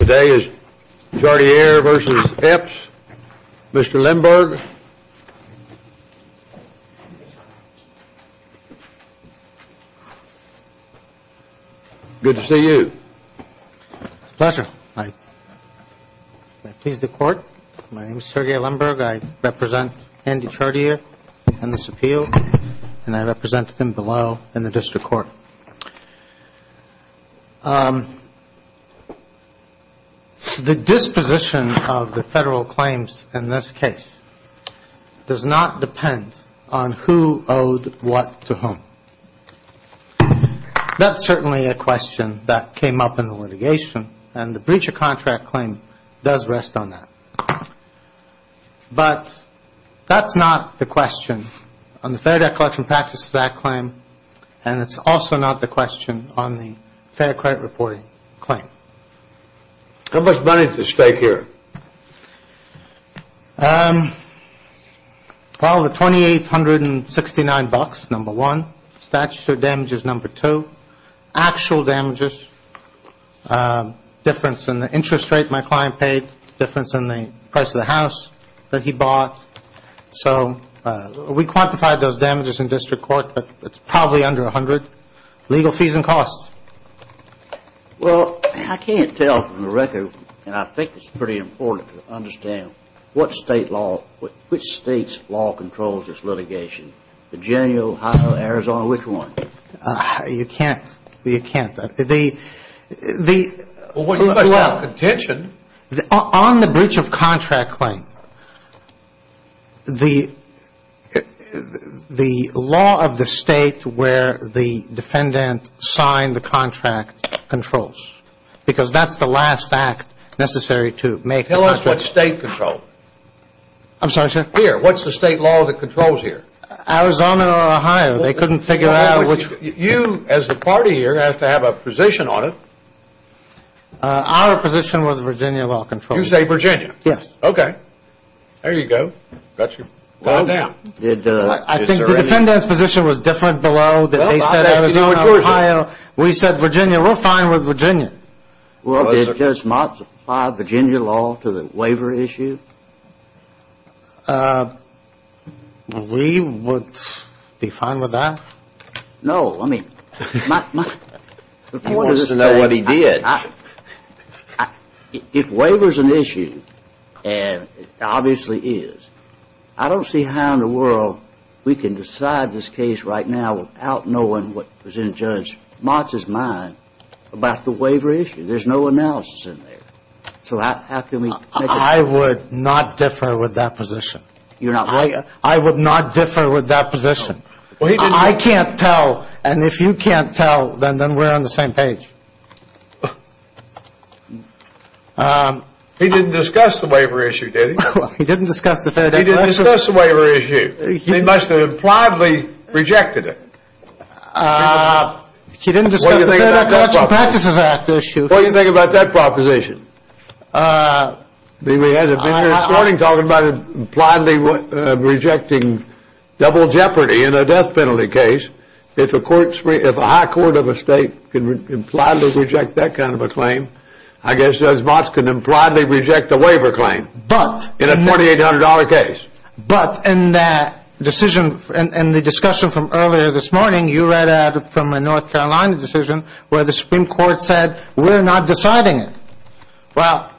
Today is Chartier v. Epps. Mr. Lemberg. Good to see you. It's a pleasure. I please the Court. My name is Sergei Lemberg. I represent Andy Chartier on this appeal, and I represent him below in the District Court. The disposition of the Federal claims in this case does not depend on who owed what to whom. That's certainly a question that came up in the litigation, and the breach of contract claim does rest on that. But that's not the question on the Fair Debt Collection Practices Act claim, and it's also not the question on the Fair Credit Reporting claim. How much money is at stake here? Well, the $2,869, number one. Statutory damages, number two. Actual damages, difference in the interest rate my client paid, difference in the price of the house that he bought. So we quantified those damages in District Court, but it's probably under $100. Legal fees and costs. Well, I can't tell from the record, and I think it's pretty important to understand, which state's law controls this litigation, Virginia, Ohio, Arizona, which one? You can't. You can't. Well, you must have contention. On the breach of contract claim, the law of the state where the defendant signed the contract controls, because that's the last act necessary to make the contract. Tell us what state controlled. I'm sorry, sir? Here. What's the state law that controls here? Arizona or Ohio. They couldn't figure out which. You, as the party here, have to have a position on it. Our position was Virginia law controls. You say Virginia? Yes. Okay. There you go. Got you. I think the defendant's position was different below. They said Arizona or Ohio. We said Virginia. We're fine with Virginia. Well, did this not apply Virginia law to the waiver issue? We would be fine with that. No. I mean, my point is that – He wants to know what he did. If waiver's an issue, and it obviously is, I don't see how in the world we can decide this case right now without knowing what was in Judge Mott's mind about the waiver issue. There's no analysis in there. So how can we – I would not differ with that position. I would not differ with that position. I can't tell. And if you can't tell, then we're on the same page. He didn't discuss the waiver issue, did he? He didn't discuss the Fair Declaration. He didn't discuss the waiver issue. He must have impliedly rejected it. He didn't discuss the Fair Declaration Practices Act issue. What do you think about that proposition? We had a meeting this morning talking about impliedly rejecting double jeopardy in a death penalty case. If a high court of a state can impliedly reject that kind of a claim, I guess Judge Mott can impliedly reject a waiver claim in a $2,800 case. But in that decision, in the discussion from earlier this morning, you read out from a North Carolina decision where the Supreme Court said, we're not deciding it. Well,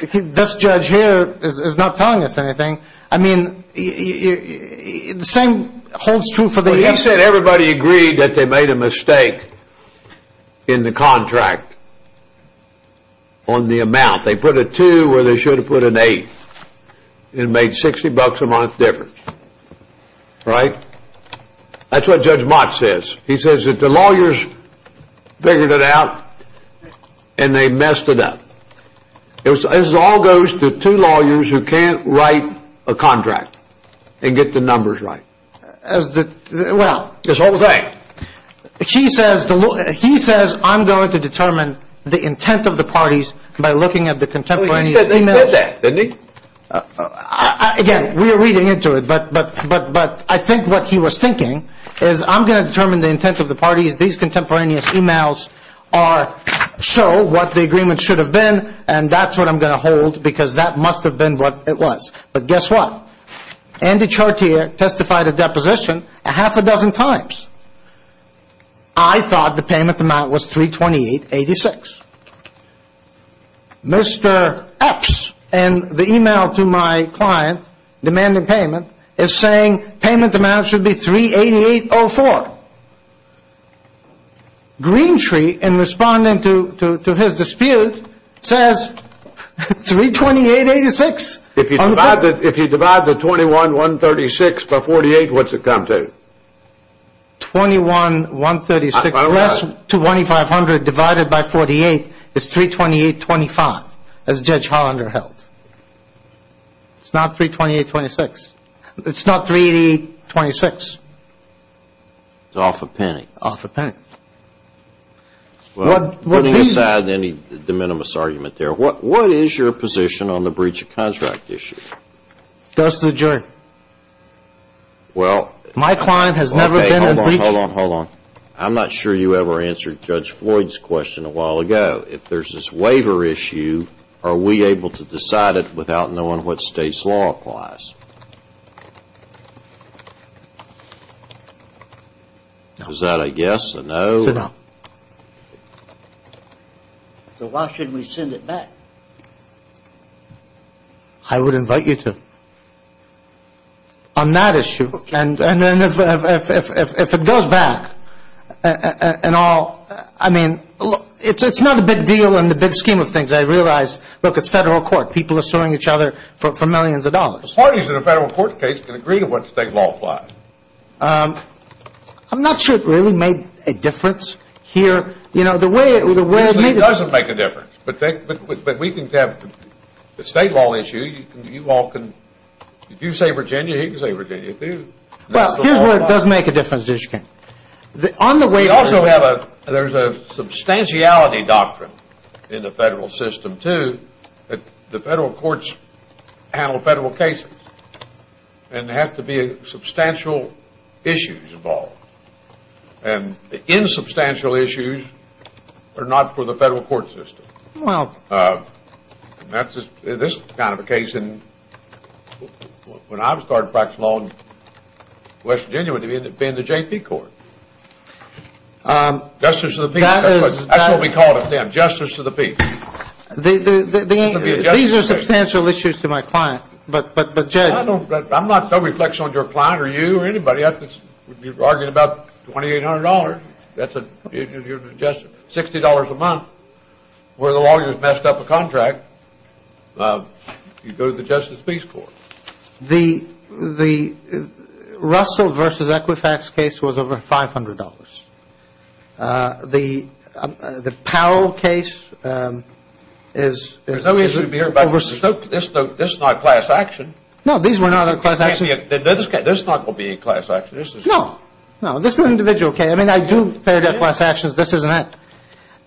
this judge here is not telling us anything. I mean, the same holds true for the – Well, he said everybody agreed that they made a mistake in the contract on the amount. They put a two where they should have put an eight. It made $60 a month difference, right? That's what Judge Mott says. He says that the lawyers figured it out and they messed it up. This all goes to two lawyers who can't write a contract and get the numbers right. Well, this whole thing. He says I'm going to determine the intent of the parties by looking at the contemporaneous emails. He said that, didn't he? Again, we are reading into it, but I think what he was thinking is I'm going to determine the intent of the parties. These contemporaneous emails show what the agreement should have been, and that's what I'm going to hold because that must have been what it was. But guess what? Andy Chartier testified of deposition a half a dozen times. I thought the payment amount was $328.86. Mr. Epps in the email to my client demanding payment is saying payment amount should be $388.04. Greentree, in responding to his dispute, says $328.86. If you divide the $21,136 by $48, what's it come to? $21,136 plus $2,500 divided by $48 is $328.25 as Judge Hollander held. It's not $328.26. It's not $328.26. It's off a penny. Off a penny. Putting aside any de minimis argument there, what is your position on the breach of contract issue? It goes to the jury. My client has never been in breach. Hold on, hold on, hold on. I'm not sure you ever answered Judge Floyd's question a while ago. If there's this waiver issue, are we able to decide it without knowing what state's law applies? Is that a yes, a no? It's a no. So why should we send it back? I would invite you to. On that issue, and if it goes back, and all, I mean, it's not a big deal in the big scheme of things. I realize, look, it's federal court. People are suing each other for millions of dollars. Parties in a federal court case can agree to what state law applies. I'm not sure it really made a difference here. Usually it doesn't make a difference. But we can have the state law issue. You all can, if you say Virginia, he can say Virginia, too. Well, here's where it does make a difference, Ditch King. On the waiver. We also have a, there's a substantiality doctrine in the federal system, too, that the federal courts handle federal cases. And there have to be substantial issues involved. And the insubstantial issues are not for the federal court system. Well. This kind of a case, when I started practicing law in West Virginia, would have been the JP court. Justice of the people. That's what we called it then, justice of the people. These are substantial issues to my client. But, Judge. I'm not so reflexive on your client or you or anybody. You're arguing about $2,800. That's a, you're suggesting $60 a month where the lawyer's messed up a contract. You go to the Justice of the people court. The Russell versus Equifax case was over $500. The Powell case is. There's no reason to be here about this. This is not class action. No, these were not class actions. This is not going to be a class action. No. This is an individual case. I mean, I do fair death class actions. This isn't it.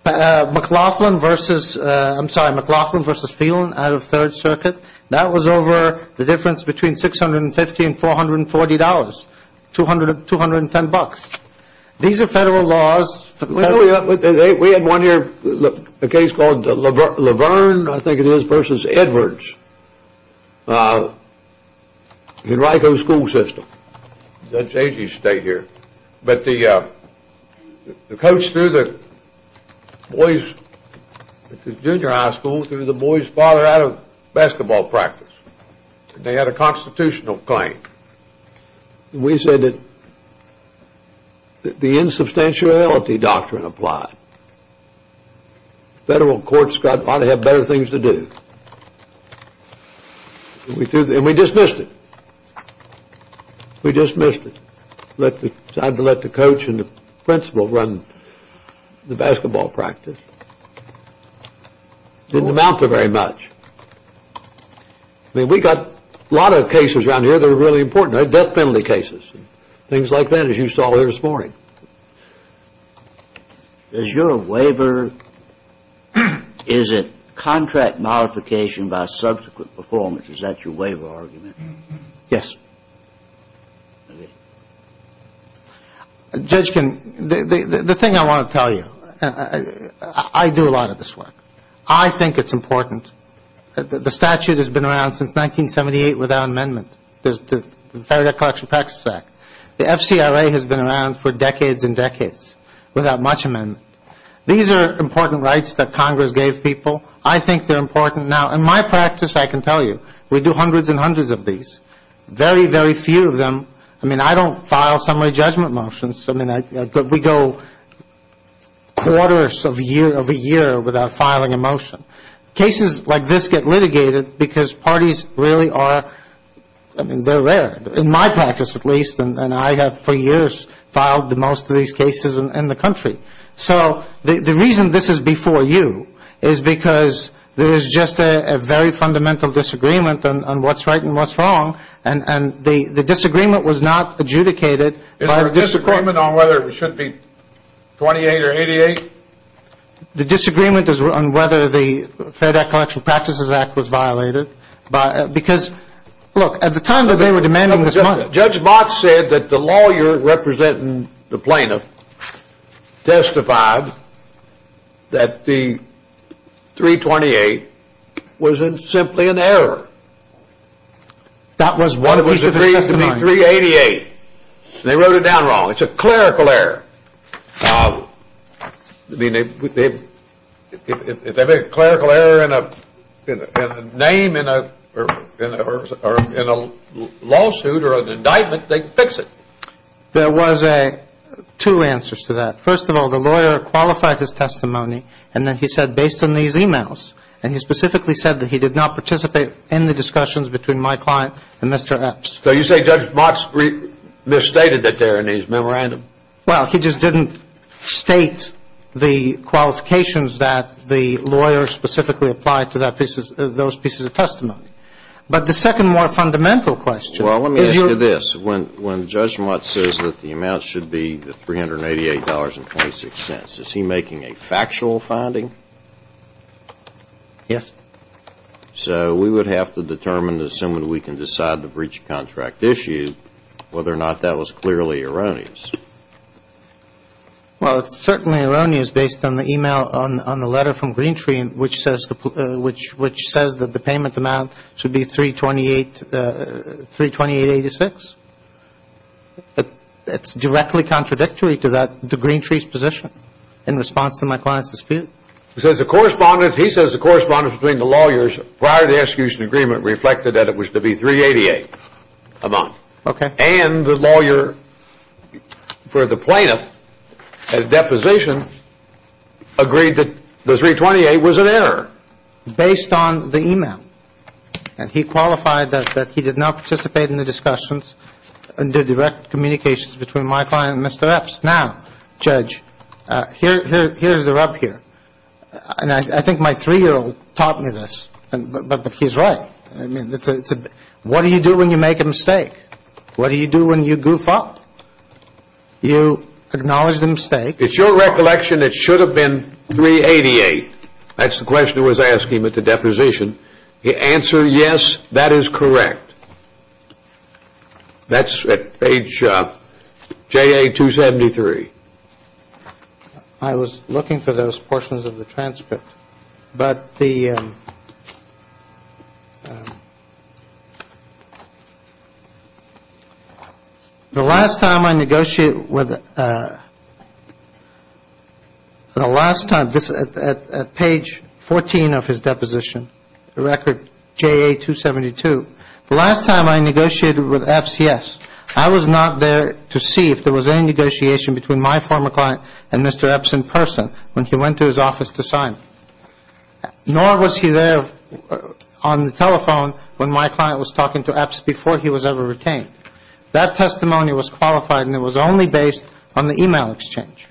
McLaughlin versus, I'm sorry, McLaughlin versus Phelan out of Third Circuit. That was over the difference between $650 and $440. $210. These are federal laws. We had one here, a case called Laverne, I think it is, versus Edwards. Henrico School System. Judge Agee stayed here. But the coach threw the boys at the junior high school, threw the boys' father out of basketball practice. They had a constitutional claim. We said that the insubstantiality doctrine applied. Federal courts ought to have better things to do. And we dismissed it. We dismissed it. Decided to let the coach and the principal run the basketball practice. Didn't amount to very much. I mean, we got a lot of cases around here that are really important. Death penalty cases and things like that, as you saw here this morning. Is your waiver, is it contract modification by subsequent performance? Is that your waiver argument? Yes. Judge, the thing I want to tell you, I do a lot of this work. I think it's important. The statute has been around since 1978 without amendment. There's the Federal Debt Collection Practices Act. The FCRA has been around for decades and decades without much amendment. These are important rights that Congress gave people. I think they're important now. In my practice, I can tell you, we do hundreds and hundreds of these. Very, very few of them, I mean, I don't file summary judgment motions. I mean, we go quarters of a year without filing a motion. Cases like this get litigated because parties really are, I mean, they're rare. In my practice, at least, and I have for years filed most of these cases in the country. So the reason this is before you is because there is just a very fundamental disagreement on what's right and what's wrong, and the disagreement was not adjudicated. Is there a disagreement on whether it should be 28 or 88? The disagreement is on whether the Federal Debt Collection Practices Act was violated. Because, look, at the time that they were demanding this money. Judge Mott said that the lawyer representing the plaintiff testified that the 328 was simply an error. That was one piece of testimony. It was agreed to be 388. They wrote it down wrong. It's a clerical error. I mean, if they make a clerical error in a name or in a lawsuit or an indictment, they fix it. There was two answers to that. First of all, the lawyer qualified his testimony, and then he said based on these e-mails, and he specifically said that he did not participate in the discussions between my client and Mr. Epps. So you say Judge Mott misstated it there in his memorandum? Well, he just didn't state the qualifications that the lawyer specifically applied to those pieces of testimony. But the second more fundamental question is your ---- Well, let me ask you this. When Judge Mott says that the amount should be the $388.26, is he making a factual finding? Yes. So we would have to determine, assuming we can decide to breach a contract issue, whether or not that was clearly erroneous. Well, it's certainly erroneous based on the e-mail, on the letter from Greentree, which says that the payment amount should be $328.86. It's directly contradictory to Greentree's position in response to my client's dispute. He says the correspondence between the lawyers prior to the execution agreement reflected that it was to be $388 a month. Okay. And the lawyer for the plaintiff at deposition agreed that the $328 was an error. Based on the e-mail. And he qualified that he did not participate in the discussions under direct communications between my client and Mr. Epps. Now, Judge, here's the rub here. And I think my three-year-old taught me this. But he's right. What do you do when you make a mistake? What do you do when you goof up? You acknowledge the mistake. It's your recollection it should have been $388. That's the question I was asking at the deposition. The answer, yes, that is correct. That's at page JA-273. I was looking for those portions of the transcript. But the last time I negotiated with the last time, this is at page 14 of his deposition, the record JA-272. The last time I negotiated with Epps, yes, I was not there to see if there was any negotiation between my former client and Mr. Epps in person when he went to his office to sign. Nor was he there on the telephone when my client was talking to Epps before he was ever retained. That testimony was qualified and it was only based on the e-mail exchange.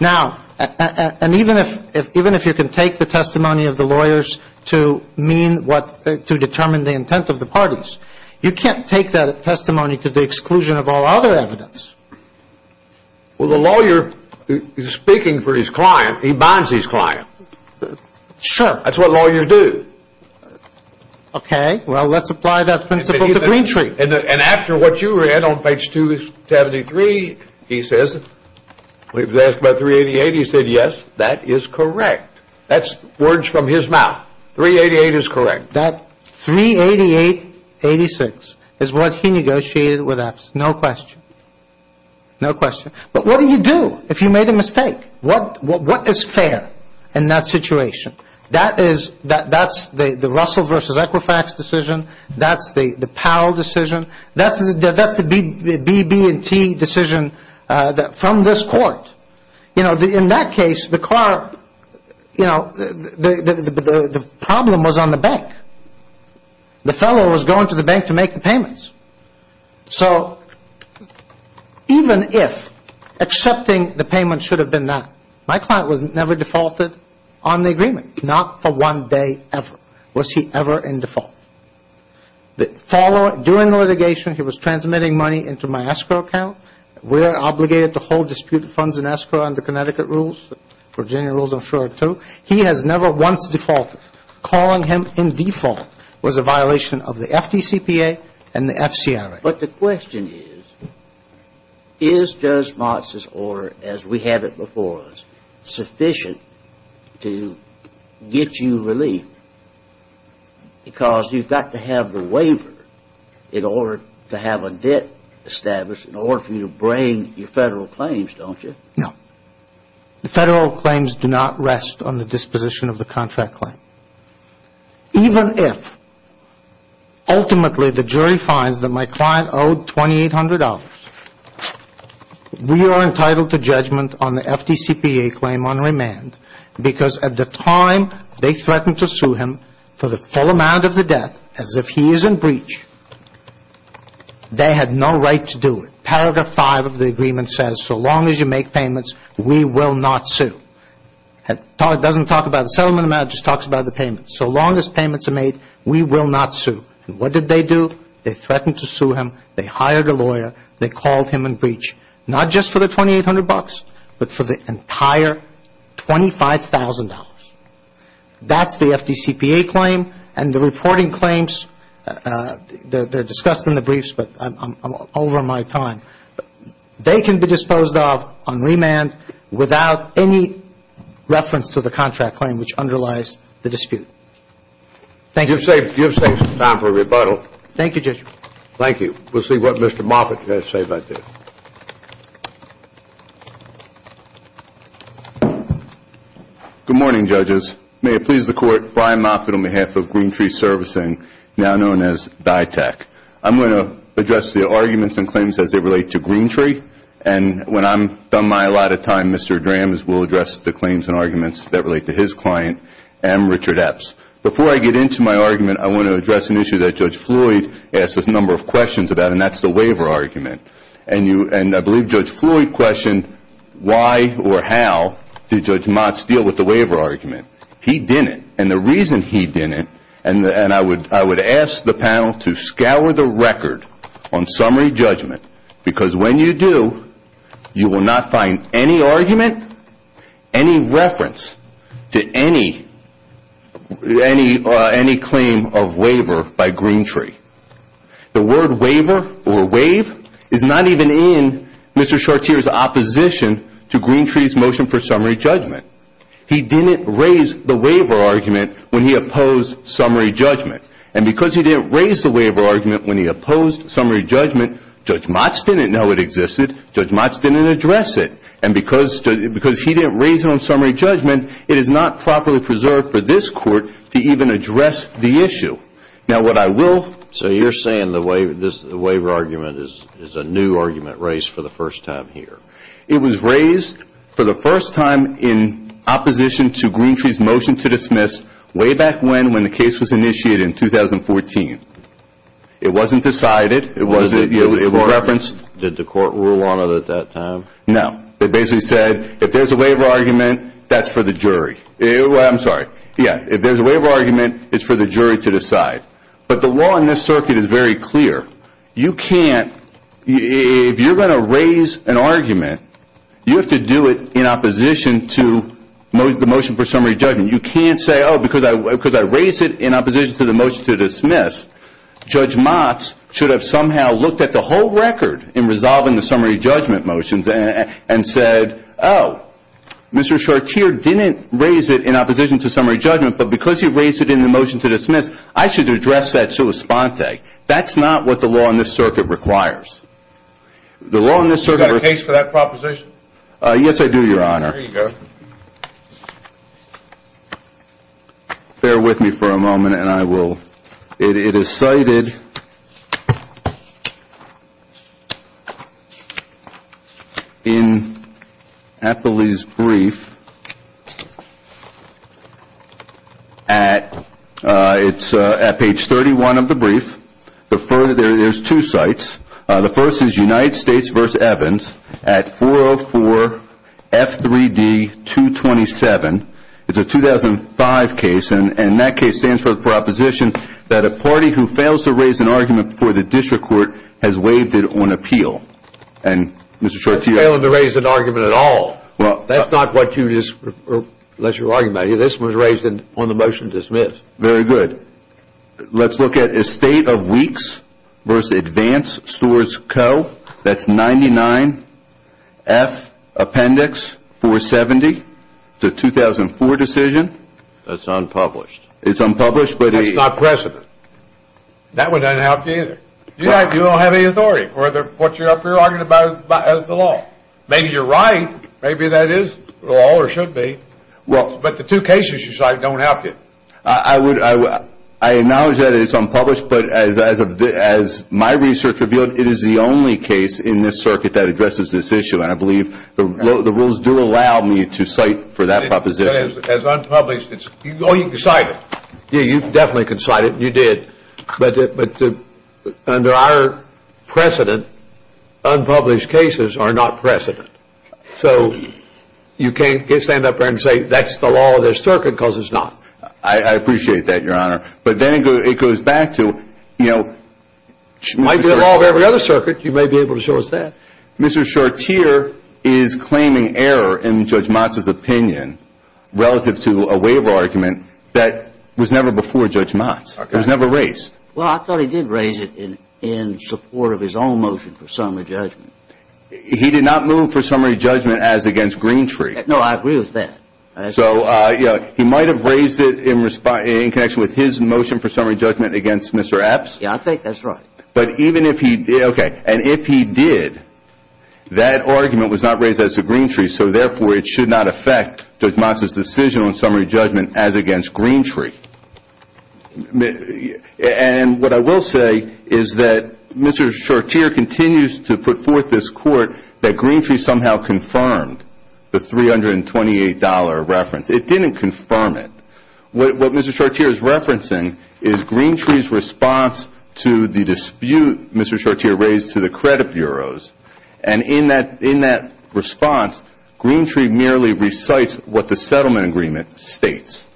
Now, and even if you can take the testimony of the lawyers to mean what to determine the intent of the parties, you can't take that testimony to the exclusion of all other evidence. Well, the lawyer is speaking for his client. He bonds his client. Sure. That's what lawyers do. Okay. Well, let's apply that principle to Greentree. And after what you read on page 273, he says, we've asked about $388. He said, yes, that is correct. That's words from his mouth. $388 is correct. That $388.86 is what he negotiated with Epps. No question. No question. But what do you do if you made a mistake? What is fair in that situation? That's the Russell versus Equifax decision. That's the Powell decision. That's the BB&T decision from this court. You know, in that case, the car, you know, the problem was on the bank. The fellow was going to the bank to make the payments. So even if accepting the payment should have been that, my client was never defaulted on the agreement. Not for one day ever was he ever in default. During the litigation, he was transmitting money into my escrow account. We are obligated to hold disputed funds in escrow under Connecticut rules. Virginia rules, I'm sure, too. He has never once defaulted. Calling him in default was a violation of the FDCPA and the FCRA. But the question is, is Judge Motz's order, as we have it before us, sufficient to get you relief? Because you've got to have the waiver in order to have a debt established in order for you to bring your federal claims, don't you? No. The federal claims do not rest on the disposition of the contract claim. Even if ultimately the jury finds that my client owed $2,800, we are entitled to judgment on the FDCPA claim on remand because at the time they threatened to sue him for the full amount of the debt as if he is in breach, they had no right to do it. Paragraph 5 of the agreement says, so long as you make payments, we will not sue. It doesn't talk about the settlement amount. It just talks about the payments. So long as payments are made, we will not sue. And what did they do? They threatened to sue him. They hired a lawyer. They called him in breach, not just for the $2,800, but for the entire $25,000. That's the FDCPA claim. And the reporting claims, they're discussed in the briefs, but I'm over my time. They can be disposed of on remand without any reference to the contract claim, which underlies the dispute. Thank you. You've saved some time for rebuttal. Thank you, Judge. Thank you. We'll see what Mr. Moffitt has to say about this. Good morning, judges. May it please the Court, Brian Moffitt on behalf of Green Tree Servicing, now known as DITAC. I'm going to address the arguments and claims as they relate to Green Tree. And when I'm done, my allotted time, Mr. Drams will address the claims and arguments that relate to his client, M. Richard Epps. Before I get into my argument, I want to address an issue that Judge Floyd asked a number of questions about, and that's the waiver argument. And I believe Judge Floyd questioned why or how did Judge Motz deal with the waiver argument. He didn't. And the reason he didn't, and I would ask the panel to scour the record on summary judgment, because when you do, you will not find any argument, any reference to any claim of waiver by Green Tree. The word waiver or waive is not even in Mr. Chartier's opposition to Green Tree's motion for summary judgment. He didn't raise the waiver argument when he opposed summary judgment. And because he didn't raise the waiver argument when he opposed summary judgment, Judge Motz didn't know it existed. Judge Motz didn't address it. And because he didn't raise it on summary judgment, it is not properly preserved for this Court to even address the issue. Now, what I will say, you're saying the waiver argument is a new argument raised for the first time here. It was raised for the first time in opposition to Green Tree's motion to dismiss way back when, when the case was initiated in 2014. It wasn't decided. It wasn't referenced. Did the Court rule on it at that time? No. It basically said, if there's a waiver argument, that's for the jury. I'm sorry. Yeah, if there's a waiver argument, it's for the jury to decide. But the law in this circuit is very clear. You can't, if you're going to raise an argument, you have to do it in opposition to the motion for summary judgment. You can't say, oh, because I raised it in opposition to the motion to dismiss, Judge Motz should have somehow looked at the whole record in resolving the summary judgment motions and said, oh, Mr. Chartier didn't raise it in opposition to summary judgment, but because you raised it in the motion to dismiss, I should address that to a sponte. That's not what the law in this circuit requires. The law in this circuit requires. Do you have a case for that proposition? Yes, I do, Your Honor. There you go. Bear with me for a moment and I will. It is cited in Appley's brief at page 31 of the brief. There's two sites. The first is United States v. Evans at 404 F3D 227. It's a 2005 case. And that case stands for the proposition that a party who fails to raise an argument before the district court has waived it on appeal. And, Mr. Chartier? That's failing to raise an argument at all. That's not what you're arguing about here. This was raised on the motion to dismiss. Very good. Let's look at Estate of Weeks v. Advance Stores Co. That's 99 F Appendix 470. It's a 2004 decision. That's unpublished. It's unpublished. That's not precedent. That would not help you either. You don't have any authority for what you're arguing about as the law. Maybe you're right. Maybe that is the law or should be. But the two cases you cite don't help you. I acknowledge that it's unpublished. But as my research revealed, it is the only case in this circuit that addresses this issue. And I believe the rules do allow me to cite for that proposition. It's unpublished. Oh, you can cite it. Yeah, you definitely can cite it. You did. But under our precedent, unpublished cases are not precedent. So you can't stand up there and say that's the law of this circuit because it's not. I appreciate that, Your Honor. But then it goes back to, you know, Might be the law of every other circuit. You may be able to show us that. Mr. Chartier is claiming error in Judge Motz's opinion relative to a waiver argument that was never before Judge Motz. It was never raised. Well, I thought he did raise it in support of his own motion for summary judgment. He did not move for summary judgment as against Greentree. No, I agree with that. So, yeah, he might have raised it in connection with his motion for summary judgment against Mr. Epps. Yeah, I think that's right. But even if he did, okay, and if he did, that argument was not raised as to Greentree. So, therefore, it should not affect Judge Motz's decision on summary judgment as against Greentree. And what I will say is that Mr. Chartier continues to put forth this court that Greentree somehow confirmed the $328 reference. It didn't confirm it. What Mr. Chartier is referencing is Greentree's response to the dispute Mr. Chartier raised to the credit bureaus. And in that response, Greentree merely recites what the settlement agreement states.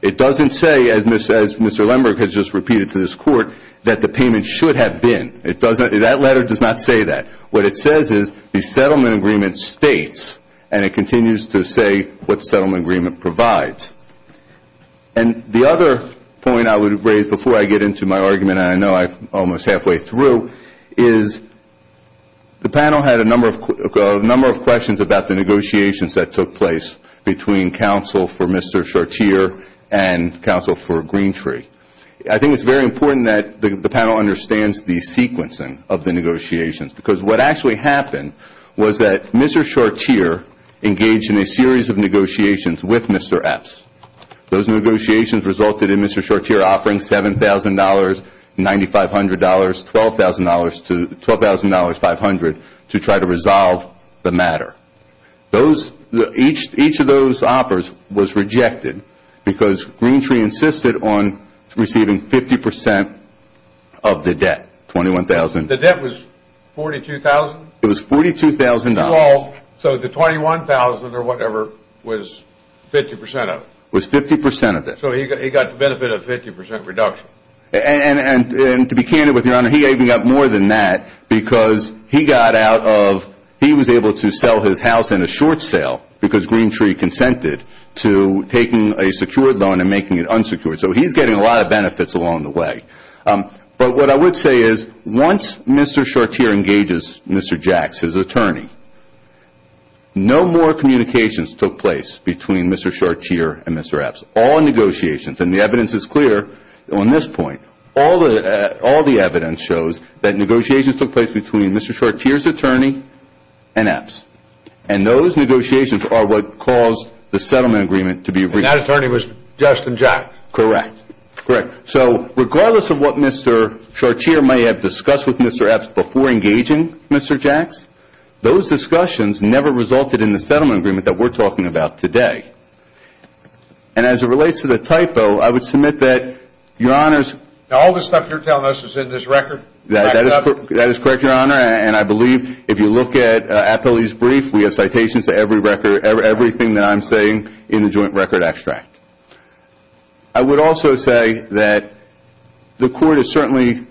It doesn't say, as Mr. Lemberg has just repeated to this court, that the payment should have been. That letter does not say that. What it says is the settlement agreement states, and it continues to say what the settlement agreement provides. And the other point I would raise before I get into my argument, and I know I'm almost halfway through, is the panel had a number of questions about the negotiations that took place between counsel for Mr. Chartier and counsel for Greentree. I think it's very important that the panel understands the sequencing of the negotiations, because what actually happened was that Mr. Chartier engaged in a series of negotiations with Mr. Epps. Those negotiations resulted in Mr. Chartier offering $7,000, $9,500, $12,500 to try to resolve the matter. Each of those offers was rejected because Greentree insisted on receiving 50% of the debt, $21,000. The debt was $42,000? It was $42,000. So the $21,000 or whatever was 50% of it? It was 50% of it. So he got the benefit of 50% reduction? And to be candid with you, Your Honor, he even got more than that, because he was able to sell his house in a short sale, because Greentree consented to taking a secured loan and making it unsecured. So he's getting a lot of benefits along the way. But what I would say is once Mr. Chartier engages Mr. Jacks, his attorney, no more communications took place between Mr. Chartier and Mr. Epps. All negotiations. And the evidence is clear on this point. All the evidence shows that negotiations took place between Mr. Chartier's attorney and Epps. And those negotiations are what caused the settlement agreement to be reached. And that attorney was Justin Jacks? Correct. Correct. So regardless of what Mr. Chartier may have discussed with Mr. Epps before engaging Mr. Jacks, those discussions never resulted in the settlement agreement that we're talking about today. And as it relates to the typo, I would submit that, Your Honors, All the stuff you're telling us is in this record? That is correct, Your Honor. And I believe if you look at Appellee's Brief, we have citations to every record, everything that I'm saying in the joint record extract. I would also say that the Court is certainly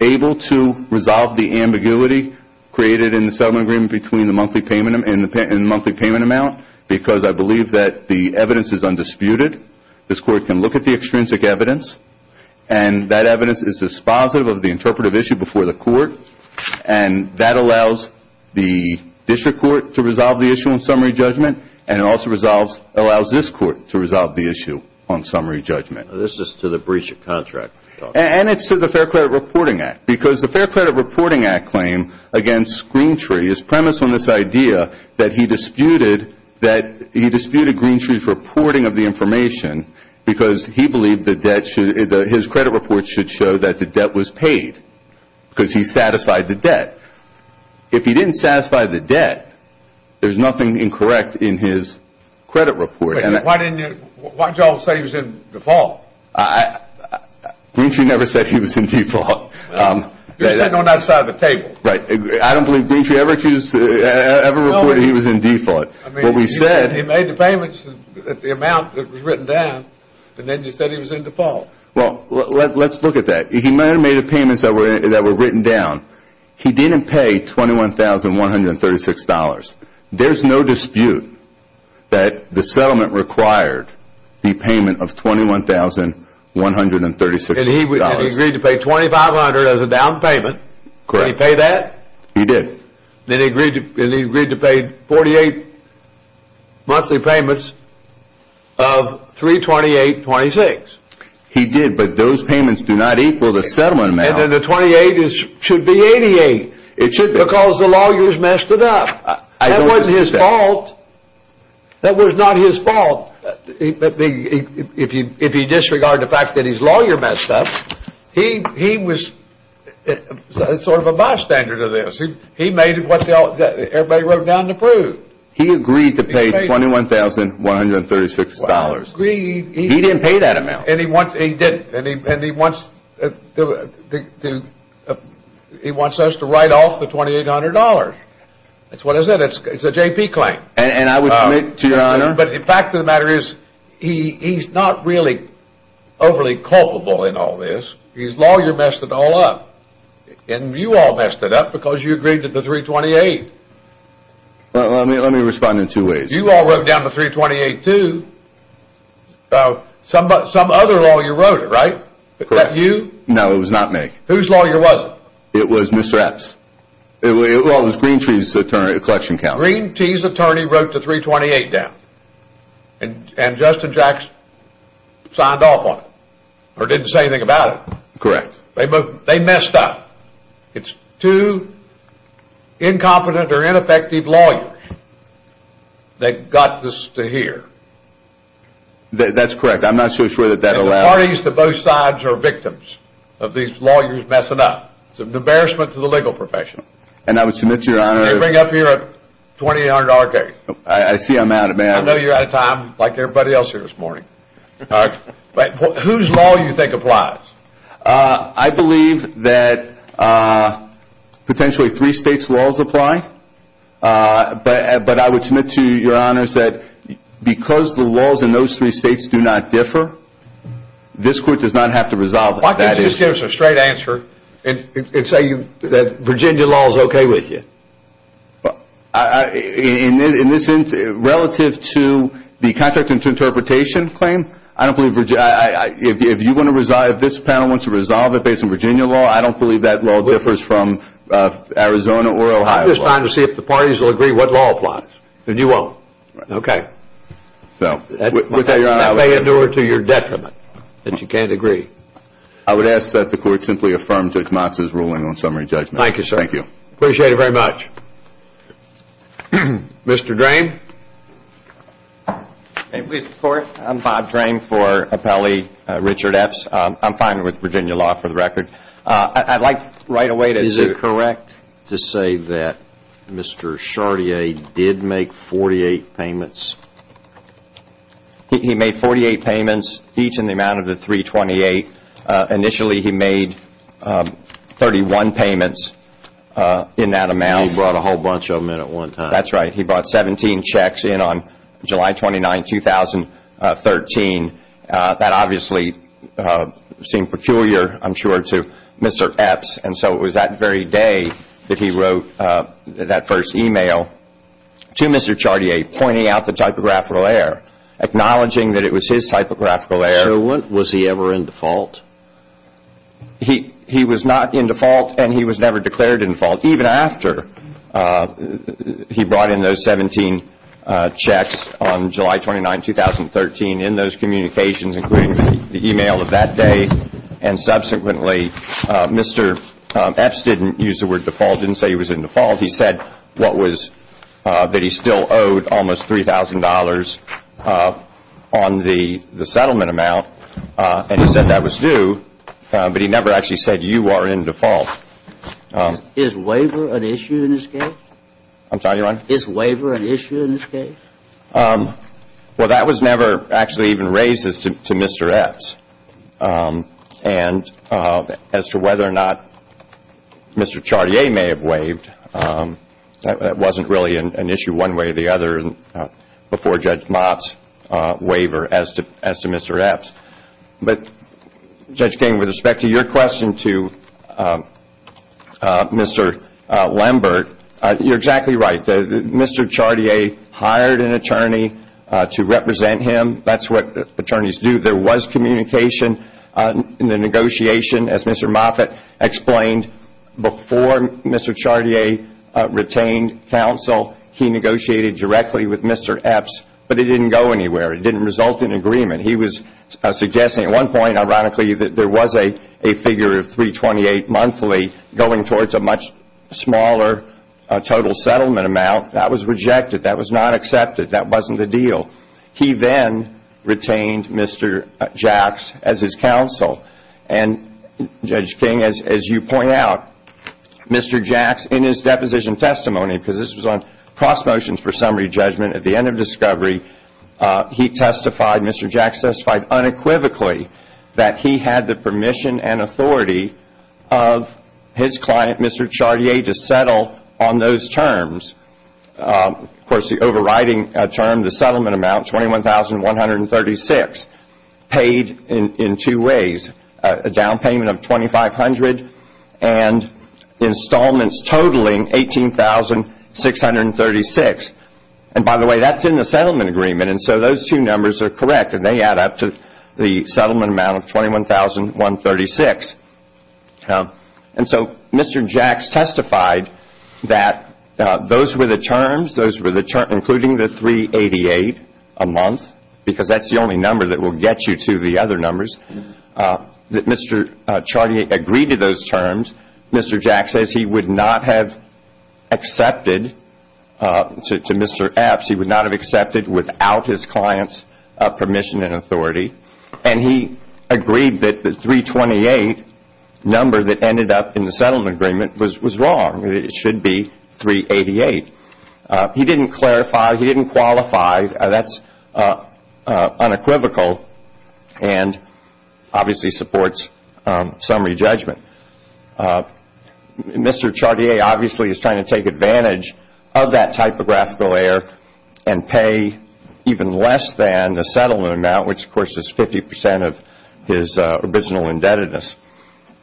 able to resolve the ambiguity created in the settlement agreement between the monthly payment amount because I believe that the evidence is undisputed. This Court can look at the extrinsic evidence, and that evidence is dispositive of the interpretive issue before the Court, and that allows the District Court to resolve the issue in summary judgment, and it also allows this Court to resolve the issue on summary judgment. This is to the breach of contract? And it's to the Fair Credit Reporting Act because the Fair Credit Reporting Act claim against Greentree is premised on this idea that he disputed Greentree's reporting of the information because he believed his credit report should show that the debt was paid because he satisfied the debt. If he didn't satisfy the debt, there's nothing incorrect in his credit report. Why didn't you all say he was in default? Greentree never said he was in default. He was sitting on that side of the table. I don't believe Greentree ever reported he was in default. He made the payments at the amount that was written down, and then he said he was in default. Well, let's look at that. He may have made the payments that were written down. He didn't pay $21,136. There's no dispute that the settlement required the payment of $21,136. And he agreed to pay $2,500 as a down payment. Correct. Did he pay that? He did. And he agreed to pay 48 monthly payments of $328.26. He did, but those payments do not equal the settlement amount. And then the 28 should be 88 because the lawyers messed it up. That was his fault. That was not his fault. If you disregard the fact that his lawyer messed up, he was sort of a bystander to this. He made what everybody wrote down to prove. He agreed to pay $21,136. He didn't pay that amount. And he wants us to write off the $2,800. That's what it is. It's a JP claim. And I would commit to your honor. But the fact of the matter is he's not really overly culpable in all this. His lawyer messed it all up. And you all messed it up because you agreed to the $328. Let me respond in two ways. You all wrote down the $328, too. Some other lawyer wrote it, right? Correct. Was that you? No, it was not me. Whose lawyer was it? It was Mr. Epps. Well, it was Green Tee's attorney at Collection County. Green Tee's attorney wrote the $328 down. And Justin Jackson signed off on it. Or didn't say anything about it. Correct. They messed up. It's two incompetent or ineffective lawyers that got this to here. That's correct. I'm not so sure that that allowed it. And the parties to both sides are victims of these lawyers messing up. It's an embarrassment to the legal profession. And I would submit to your honor. They bring up here a $2,800 case. I see I'm out of it. I know you're out of time like everybody else here this morning. But whose law do you think applies? I believe that potentially three states' laws apply. But I would submit to your honors that because the laws in those three states do not differ, this court does not have to resolve it. Why can't you just give us a straight answer and say that Virginia law is okay with you? In this instance, relative to the contractual interpretation claim, I don't believe if this panel wants to resolve it based on Virginia law, I don't believe that law differs from Arizona or Ohio law. I'm just trying to see if the parties will agree what law applies. And you won't. Okay. That may endure to your detriment that you can't agree. I would ask that the court simply affirm Judge Motz's ruling on summary judgment. Thank you, sir. Thank you. Appreciate it very much. Mr. Drame? May it please the Court? I'm Bob Drame for Appellee Richard Epps. I'm fine with Virginia law for the record. I'd like right away to say that Mr. Chartier did make 48 payments. He made 48 payments, each in the amount of the 328. Initially, he made 31 payments in that amount. He brought a whole bunch of them in at one time. That's right. He brought 17 checks in on July 29, 2013. That obviously seemed peculiar, I'm sure, to Mr. Epps. And so it was that very day that he wrote that first email to Mr. Chartier, pointing out the typographical error, acknowledging that it was his typographical error. So was he ever in default? He was not in default, and he was never declared in default, even after he brought in those 17 checks on July 29, 2013, in those communications, including the email of that day. And subsequently, Mr. Epps didn't use the word default, didn't say he was in default. He said what was that he still owed almost $3,000 on the settlement amount, and he said that was due, but he never actually said you are in default. Is waiver an issue in this case? I'm sorry, Your Honor? Is waiver an issue in this case? Well, that was never actually even raised to Mr. Epps. And as to whether or not Mr. Chartier may have waived, that wasn't really an issue one way or the other before Judge Mott's waiver as to Mr. Epps. But, Judge King, with respect to your question to Mr. Lambert, you're exactly right. Mr. Chartier hired an attorney to represent him. That's what attorneys do. There was communication in the negotiation, as Mr. Moffitt explained. Before Mr. Chartier retained counsel, he negotiated directly with Mr. Epps, but it didn't go anywhere. It didn't result in agreement. He was suggesting at one point, ironically, that there was a figure of $328 monthly going towards a much smaller total settlement amount. That was rejected. That was not accepted. That wasn't the deal. He then retained Mr. Jacks as his counsel. And, Judge King, as you point out, Mr. Jacks, in his deposition testimony, because this was on cross motions for summary judgment at the end of discovery, he testified, Mr. Jacks testified unequivocally that he had the permission and authority of his client, Mr. Chartier, to settle on those terms. Of course, the overriding term, the settlement amount, $21,136, paid in two ways. A down payment of $2,500 and installments totaling $18,636. And, by the way, that's in the settlement agreement, and so those two numbers are correct, and they add up to the settlement amount of $21,136. And so Mr. Jacks testified that those were the terms, including the $388 a month, because that's the only number that will get you to the other numbers, that Mr. Chartier agreed to those terms. Mr. Jacks says he would not have accepted, to Mr. Epps, he would not have accepted without his client's permission and authority. And he agreed that the $328 number that ended up in the settlement agreement was wrong. It should be $388. He didn't clarify, he didn't qualify. That's unequivocal and obviously supports summary judgment. Mr. Chartier obviously is trying to take advantage of that typographical error and pay even less than the settlement amount, which, of course, is 50% of his original indebtedness.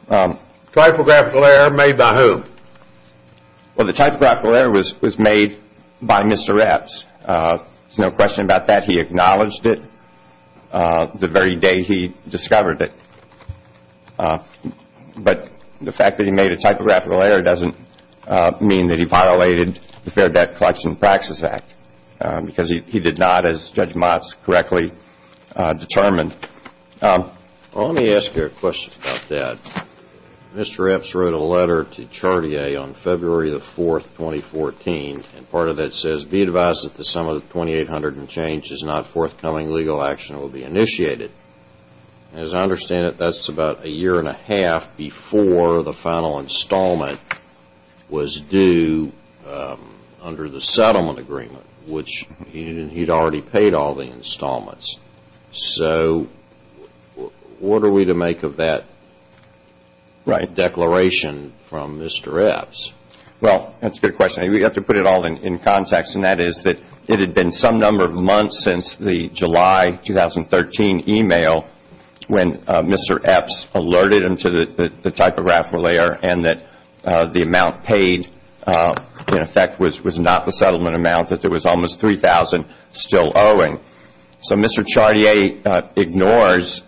Typographical error made by whom? Well, the typographical error was made by Mr. Epps. There's no question about that. He acknowledged it the very day he discovered it. But the fact that he made a typographical error doesn't mean that he violated the Fair Debt Collection Practices Act because he did not, as Judge Motz correctly determined. Well, let me ask you a question about that. Mr. Epps wrote a letter to Chartier on February the 4th, 2014, and part of that says, be advised that the sum of the $2,800 in change is not forthcoming. Legal action will be initiated. As I understand it, that's about a year and a half before the final installment was due under the settlement agreement, which he'd already paid all the installments. So what are we to make of that declaration from Mr. Epps? Well, that's a good question. We have to put it all in context, and that is that it had been some number of months since the July 2013 email when Mr. Epps alerted him to the typographical error and that the amount paid, in effect, was not the settlement amount, that there was almost $3,000 still owing. So Mr. Chartier ignores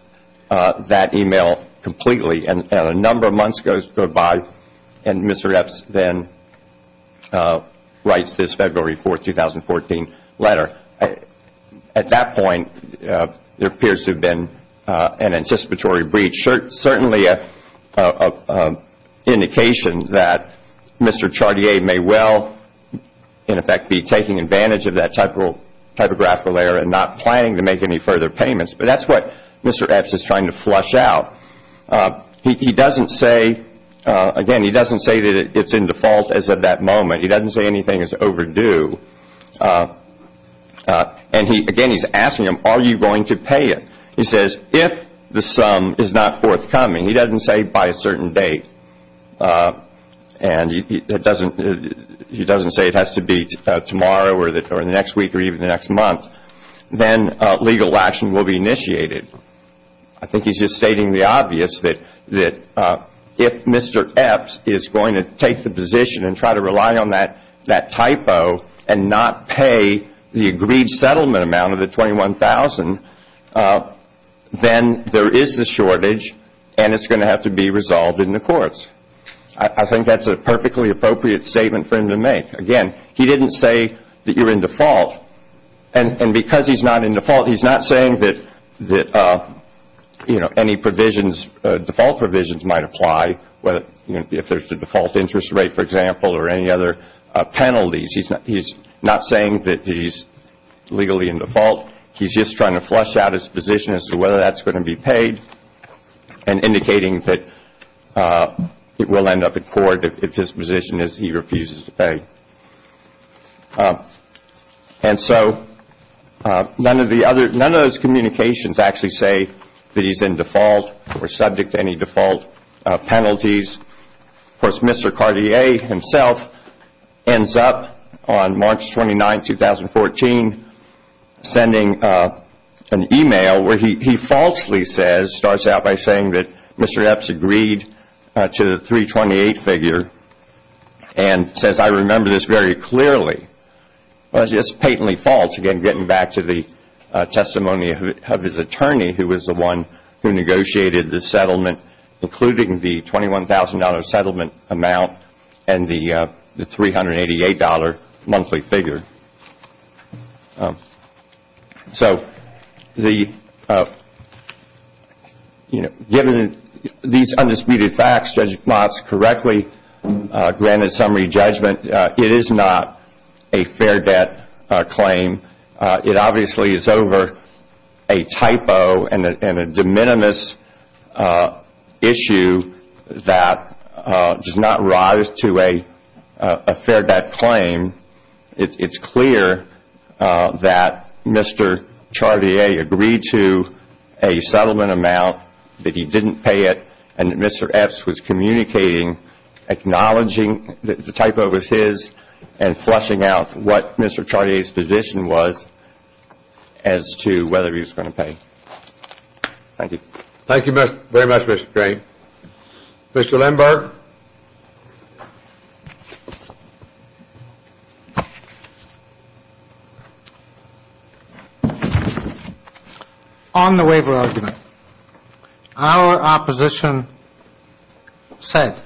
that email completely, and a number of months go by, and Mr. Epps then writes this February 4th, 2014, letter. At that point, there appears to have been an anticipatory breach, certainly an indication that Mr. Chartier may well, in effect, be taking advantage of that typographical error and not planning to make any further payments. But that's what Mr. Epps is trying to flush out. He doesn't say, again, he doesn't say that it's in default as of that moment. He doesn't say anything is overdue. And again, he's asking him, are you going to pay it? He says, if the sum is not forthcoming, he doesn't say by a certain date, and he doesn't say it has to be tomorrow or the next week or even the next month, then legal action will be initiated. I think he's just stating the obvious that if Mr. Epps is going to take the position and try to rely on that typo and not pay the agreed settlement amount of the $21,000, then there is the shortage and it's going to have to be resolved in the courts. I think that's a perfectly appropriate statement for him to make. Again, he didn't say that you're in default. And because he's not in default, he's not saying that any provisions, default provisions might apply if there's a default interest rate, for example, or any other penalties. He's not saying that he's legally in default. He's just trying to flush out his position as to whether that's going to be paid and indicating that it will end up in court if his position is he refuses to pay. And so none of those communications actually say that he's in default or subject to any default penalties. Of course, Mr. Cartier himself ends up on March 29, 2014, sending an email where he falsely starts out by saying that Mr. Epps agreed to the 328 figure and says, I remember this very clearly. Well, it's just patently false, again, getting back to the testimony of his attorney, who was the one who negotiated the settlement, including the $21,000 settlement amount and the $388 monthly figure. So given these undisputed facts, Judge Mott's correctly granted summary judgment, it is not a fair debt claim. It obviously is over a typo and a de minimis issue that does not rise to a fair debt claim. It's clear that Mr. Cartier agreed to a settlement amount, that he didn't pay it, and that Mr. Epps was communicating, acknowledging that the typo was his, and flushing out what Mr. Cartier's position was as to whether he was going to pay. Thank you. Thank you very much, Mr. Crain. Mr. Lindberg? Mr. Lindberg, on the waiver argument, our opposition said,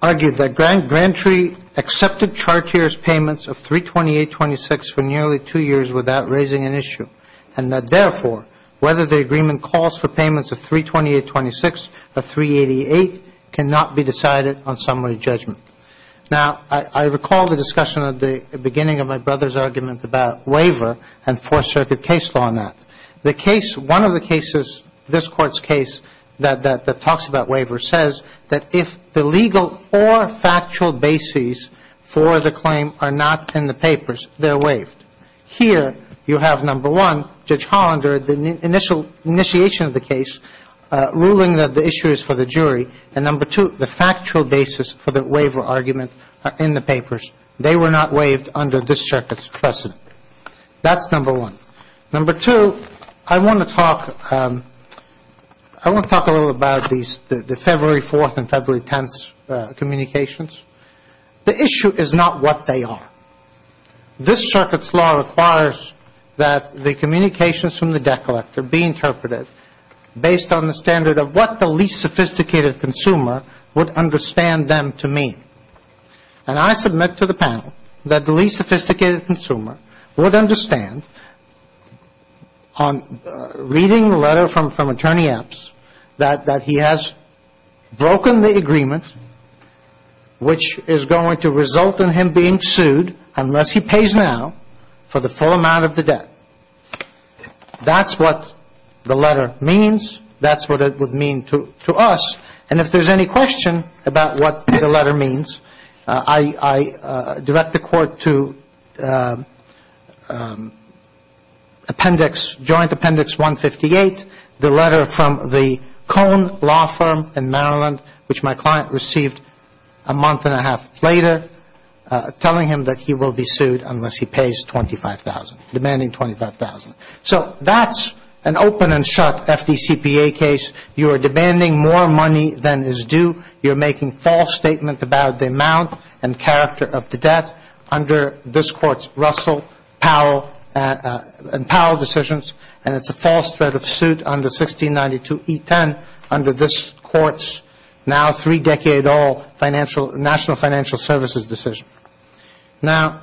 argued that Grantree accepted Cartier's payments of 328.26 for nearly two years without raising an issue, and that, therefore, whether the agreement calls for payments of 328.26 or 388 cannot be decided on summary judgment. Now, I recall the discussion at the beginning of my brother's argument about waiver and Fourth Circuit case law on that. The case, one of the cases, this Court's case that talks about waiver, says that if the legal or factual bases for the claim are not in the papers, they're waived. Here, you have, number one, Judge Hollander, the initial initiation of the case, ruling that the issue is for the jury, and, number two, the factual basis for the waiver argument in the papers. They were not waived under this Circuit's precedent. That's number one. Number two, I want to talk a little about the February 4th and February 10th communications. The issue is not what they are. This Circuit's law requires that the communications from the debt collector be interpreted based on the standard of what the least sophisticated consumer would understand them to mean. And I submit to the panel that the least sophisticated consumer would understand, reading the letter from Attorney Epps, that he has broken the agreement, which is going to result in him being sued, unless he pays now, for the full amount of the debt. That's what the letter means. That's what it would mean to us. And if there's any question about what the letter means, I direct the Court to Appendix, Joint Appendix 158, the letter from the Cone Law Firm in Maryland, which my client received a month and a half later, telling him that he will be sued unless he pays $25,000, demanding $25,000. So that's an open and shut FDCPA case. You are demanding more money than is due. You're making false statements about the amount and character of the debt under this Court's Russell and Powell decisions, and it's a false threat of suit under 1692E10, under this Court's now three-decade-old national financial services decision. Now,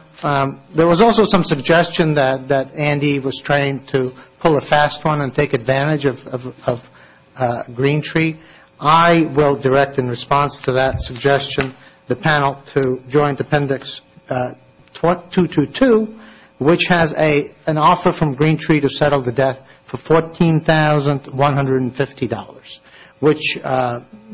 there was also some suggestion that Andy was trying to pull a fast one and take advantage of Green Tree. I will direct, in response to that suggestion, the panel to Joint Appendix 222, which has an offer from Green Tree to settle the debt for $14,150,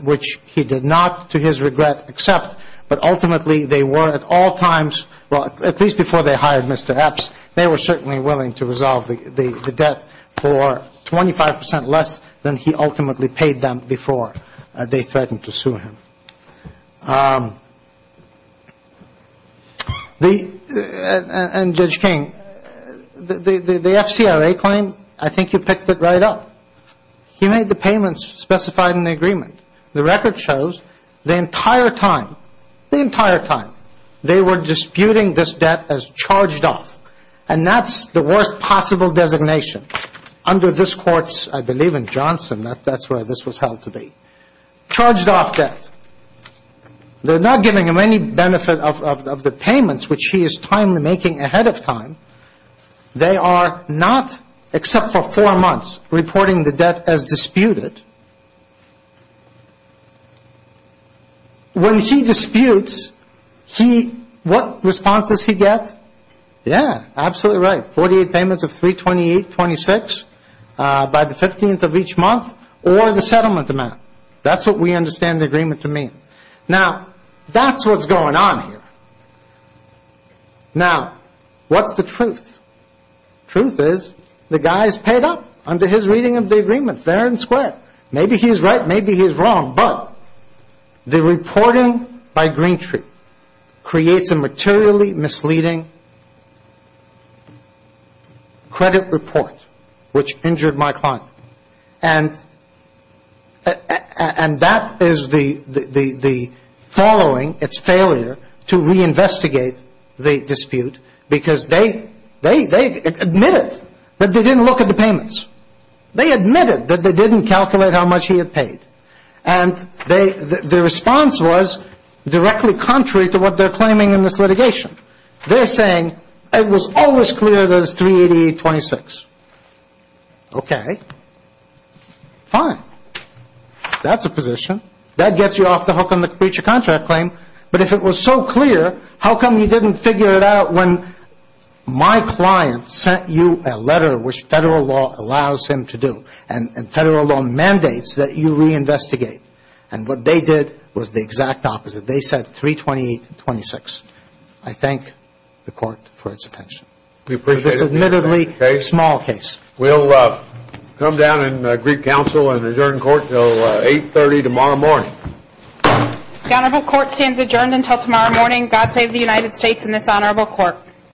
which he did not, to his regret, accept. But ultimately, they were at all times, well, at least before they hired Mr. Epps, they were certainly willing to resolve the debt for 25 percent less than he ultimately paid them before they threatened to sue him. And, Judge King, the FCRA claim, I think you picked it right up. He made the payments specified in the agreement. The record shows the entire time, the entire time, they were disputing this debt as charged off, and that's the worst possible designation under this Court's, I believe, in Johnson, that's where this was held to be. Charged off debt. They're not giving him any benefit of the payments, which he is timely making ahead of time. They are not, except for four months, reporting the debt as disputed. When he disputes, what response does he get? Yeah, absolutely right. 48 payments of 328.26 by the 15th of each month, or the settlement amount. That's what we understand the agreement to mean. Now, that's what's going on here. Now, what's the truth? Truth is, the guy's paid up under his reading of the agreement, fair and square. Maybe he's right, maybe he's wrong. But the reporting by Greentree creates a materially misleading credit report, which injured my client. And that is the following, its failure to reinvestigate the dispute, because they admitted that they didn't look at the payments. They admitted that they didn't calculate how much he had paid. And the response was directly contrary to what they're claiming in this litigation. They're saying, it was always clear that it was 388.26. Okay, fine. That's a position. That gets you off the hook on the breach of contract claim. But if it was so clear, how come you didn't figure it out when my client sent you a letter, which federal law allows him to do, and federal law mandates that you reinvestigate? And what they did was the exact opposite. They said 328.26. I thank the court for its attention. We appreciate it. This is admittedly a small case. We'll come down and greet counsel and adjourn court until 8.30 tomorrow morning. The honorable court stands adjourned until tomorrow morning. God save the United States and this honorable court.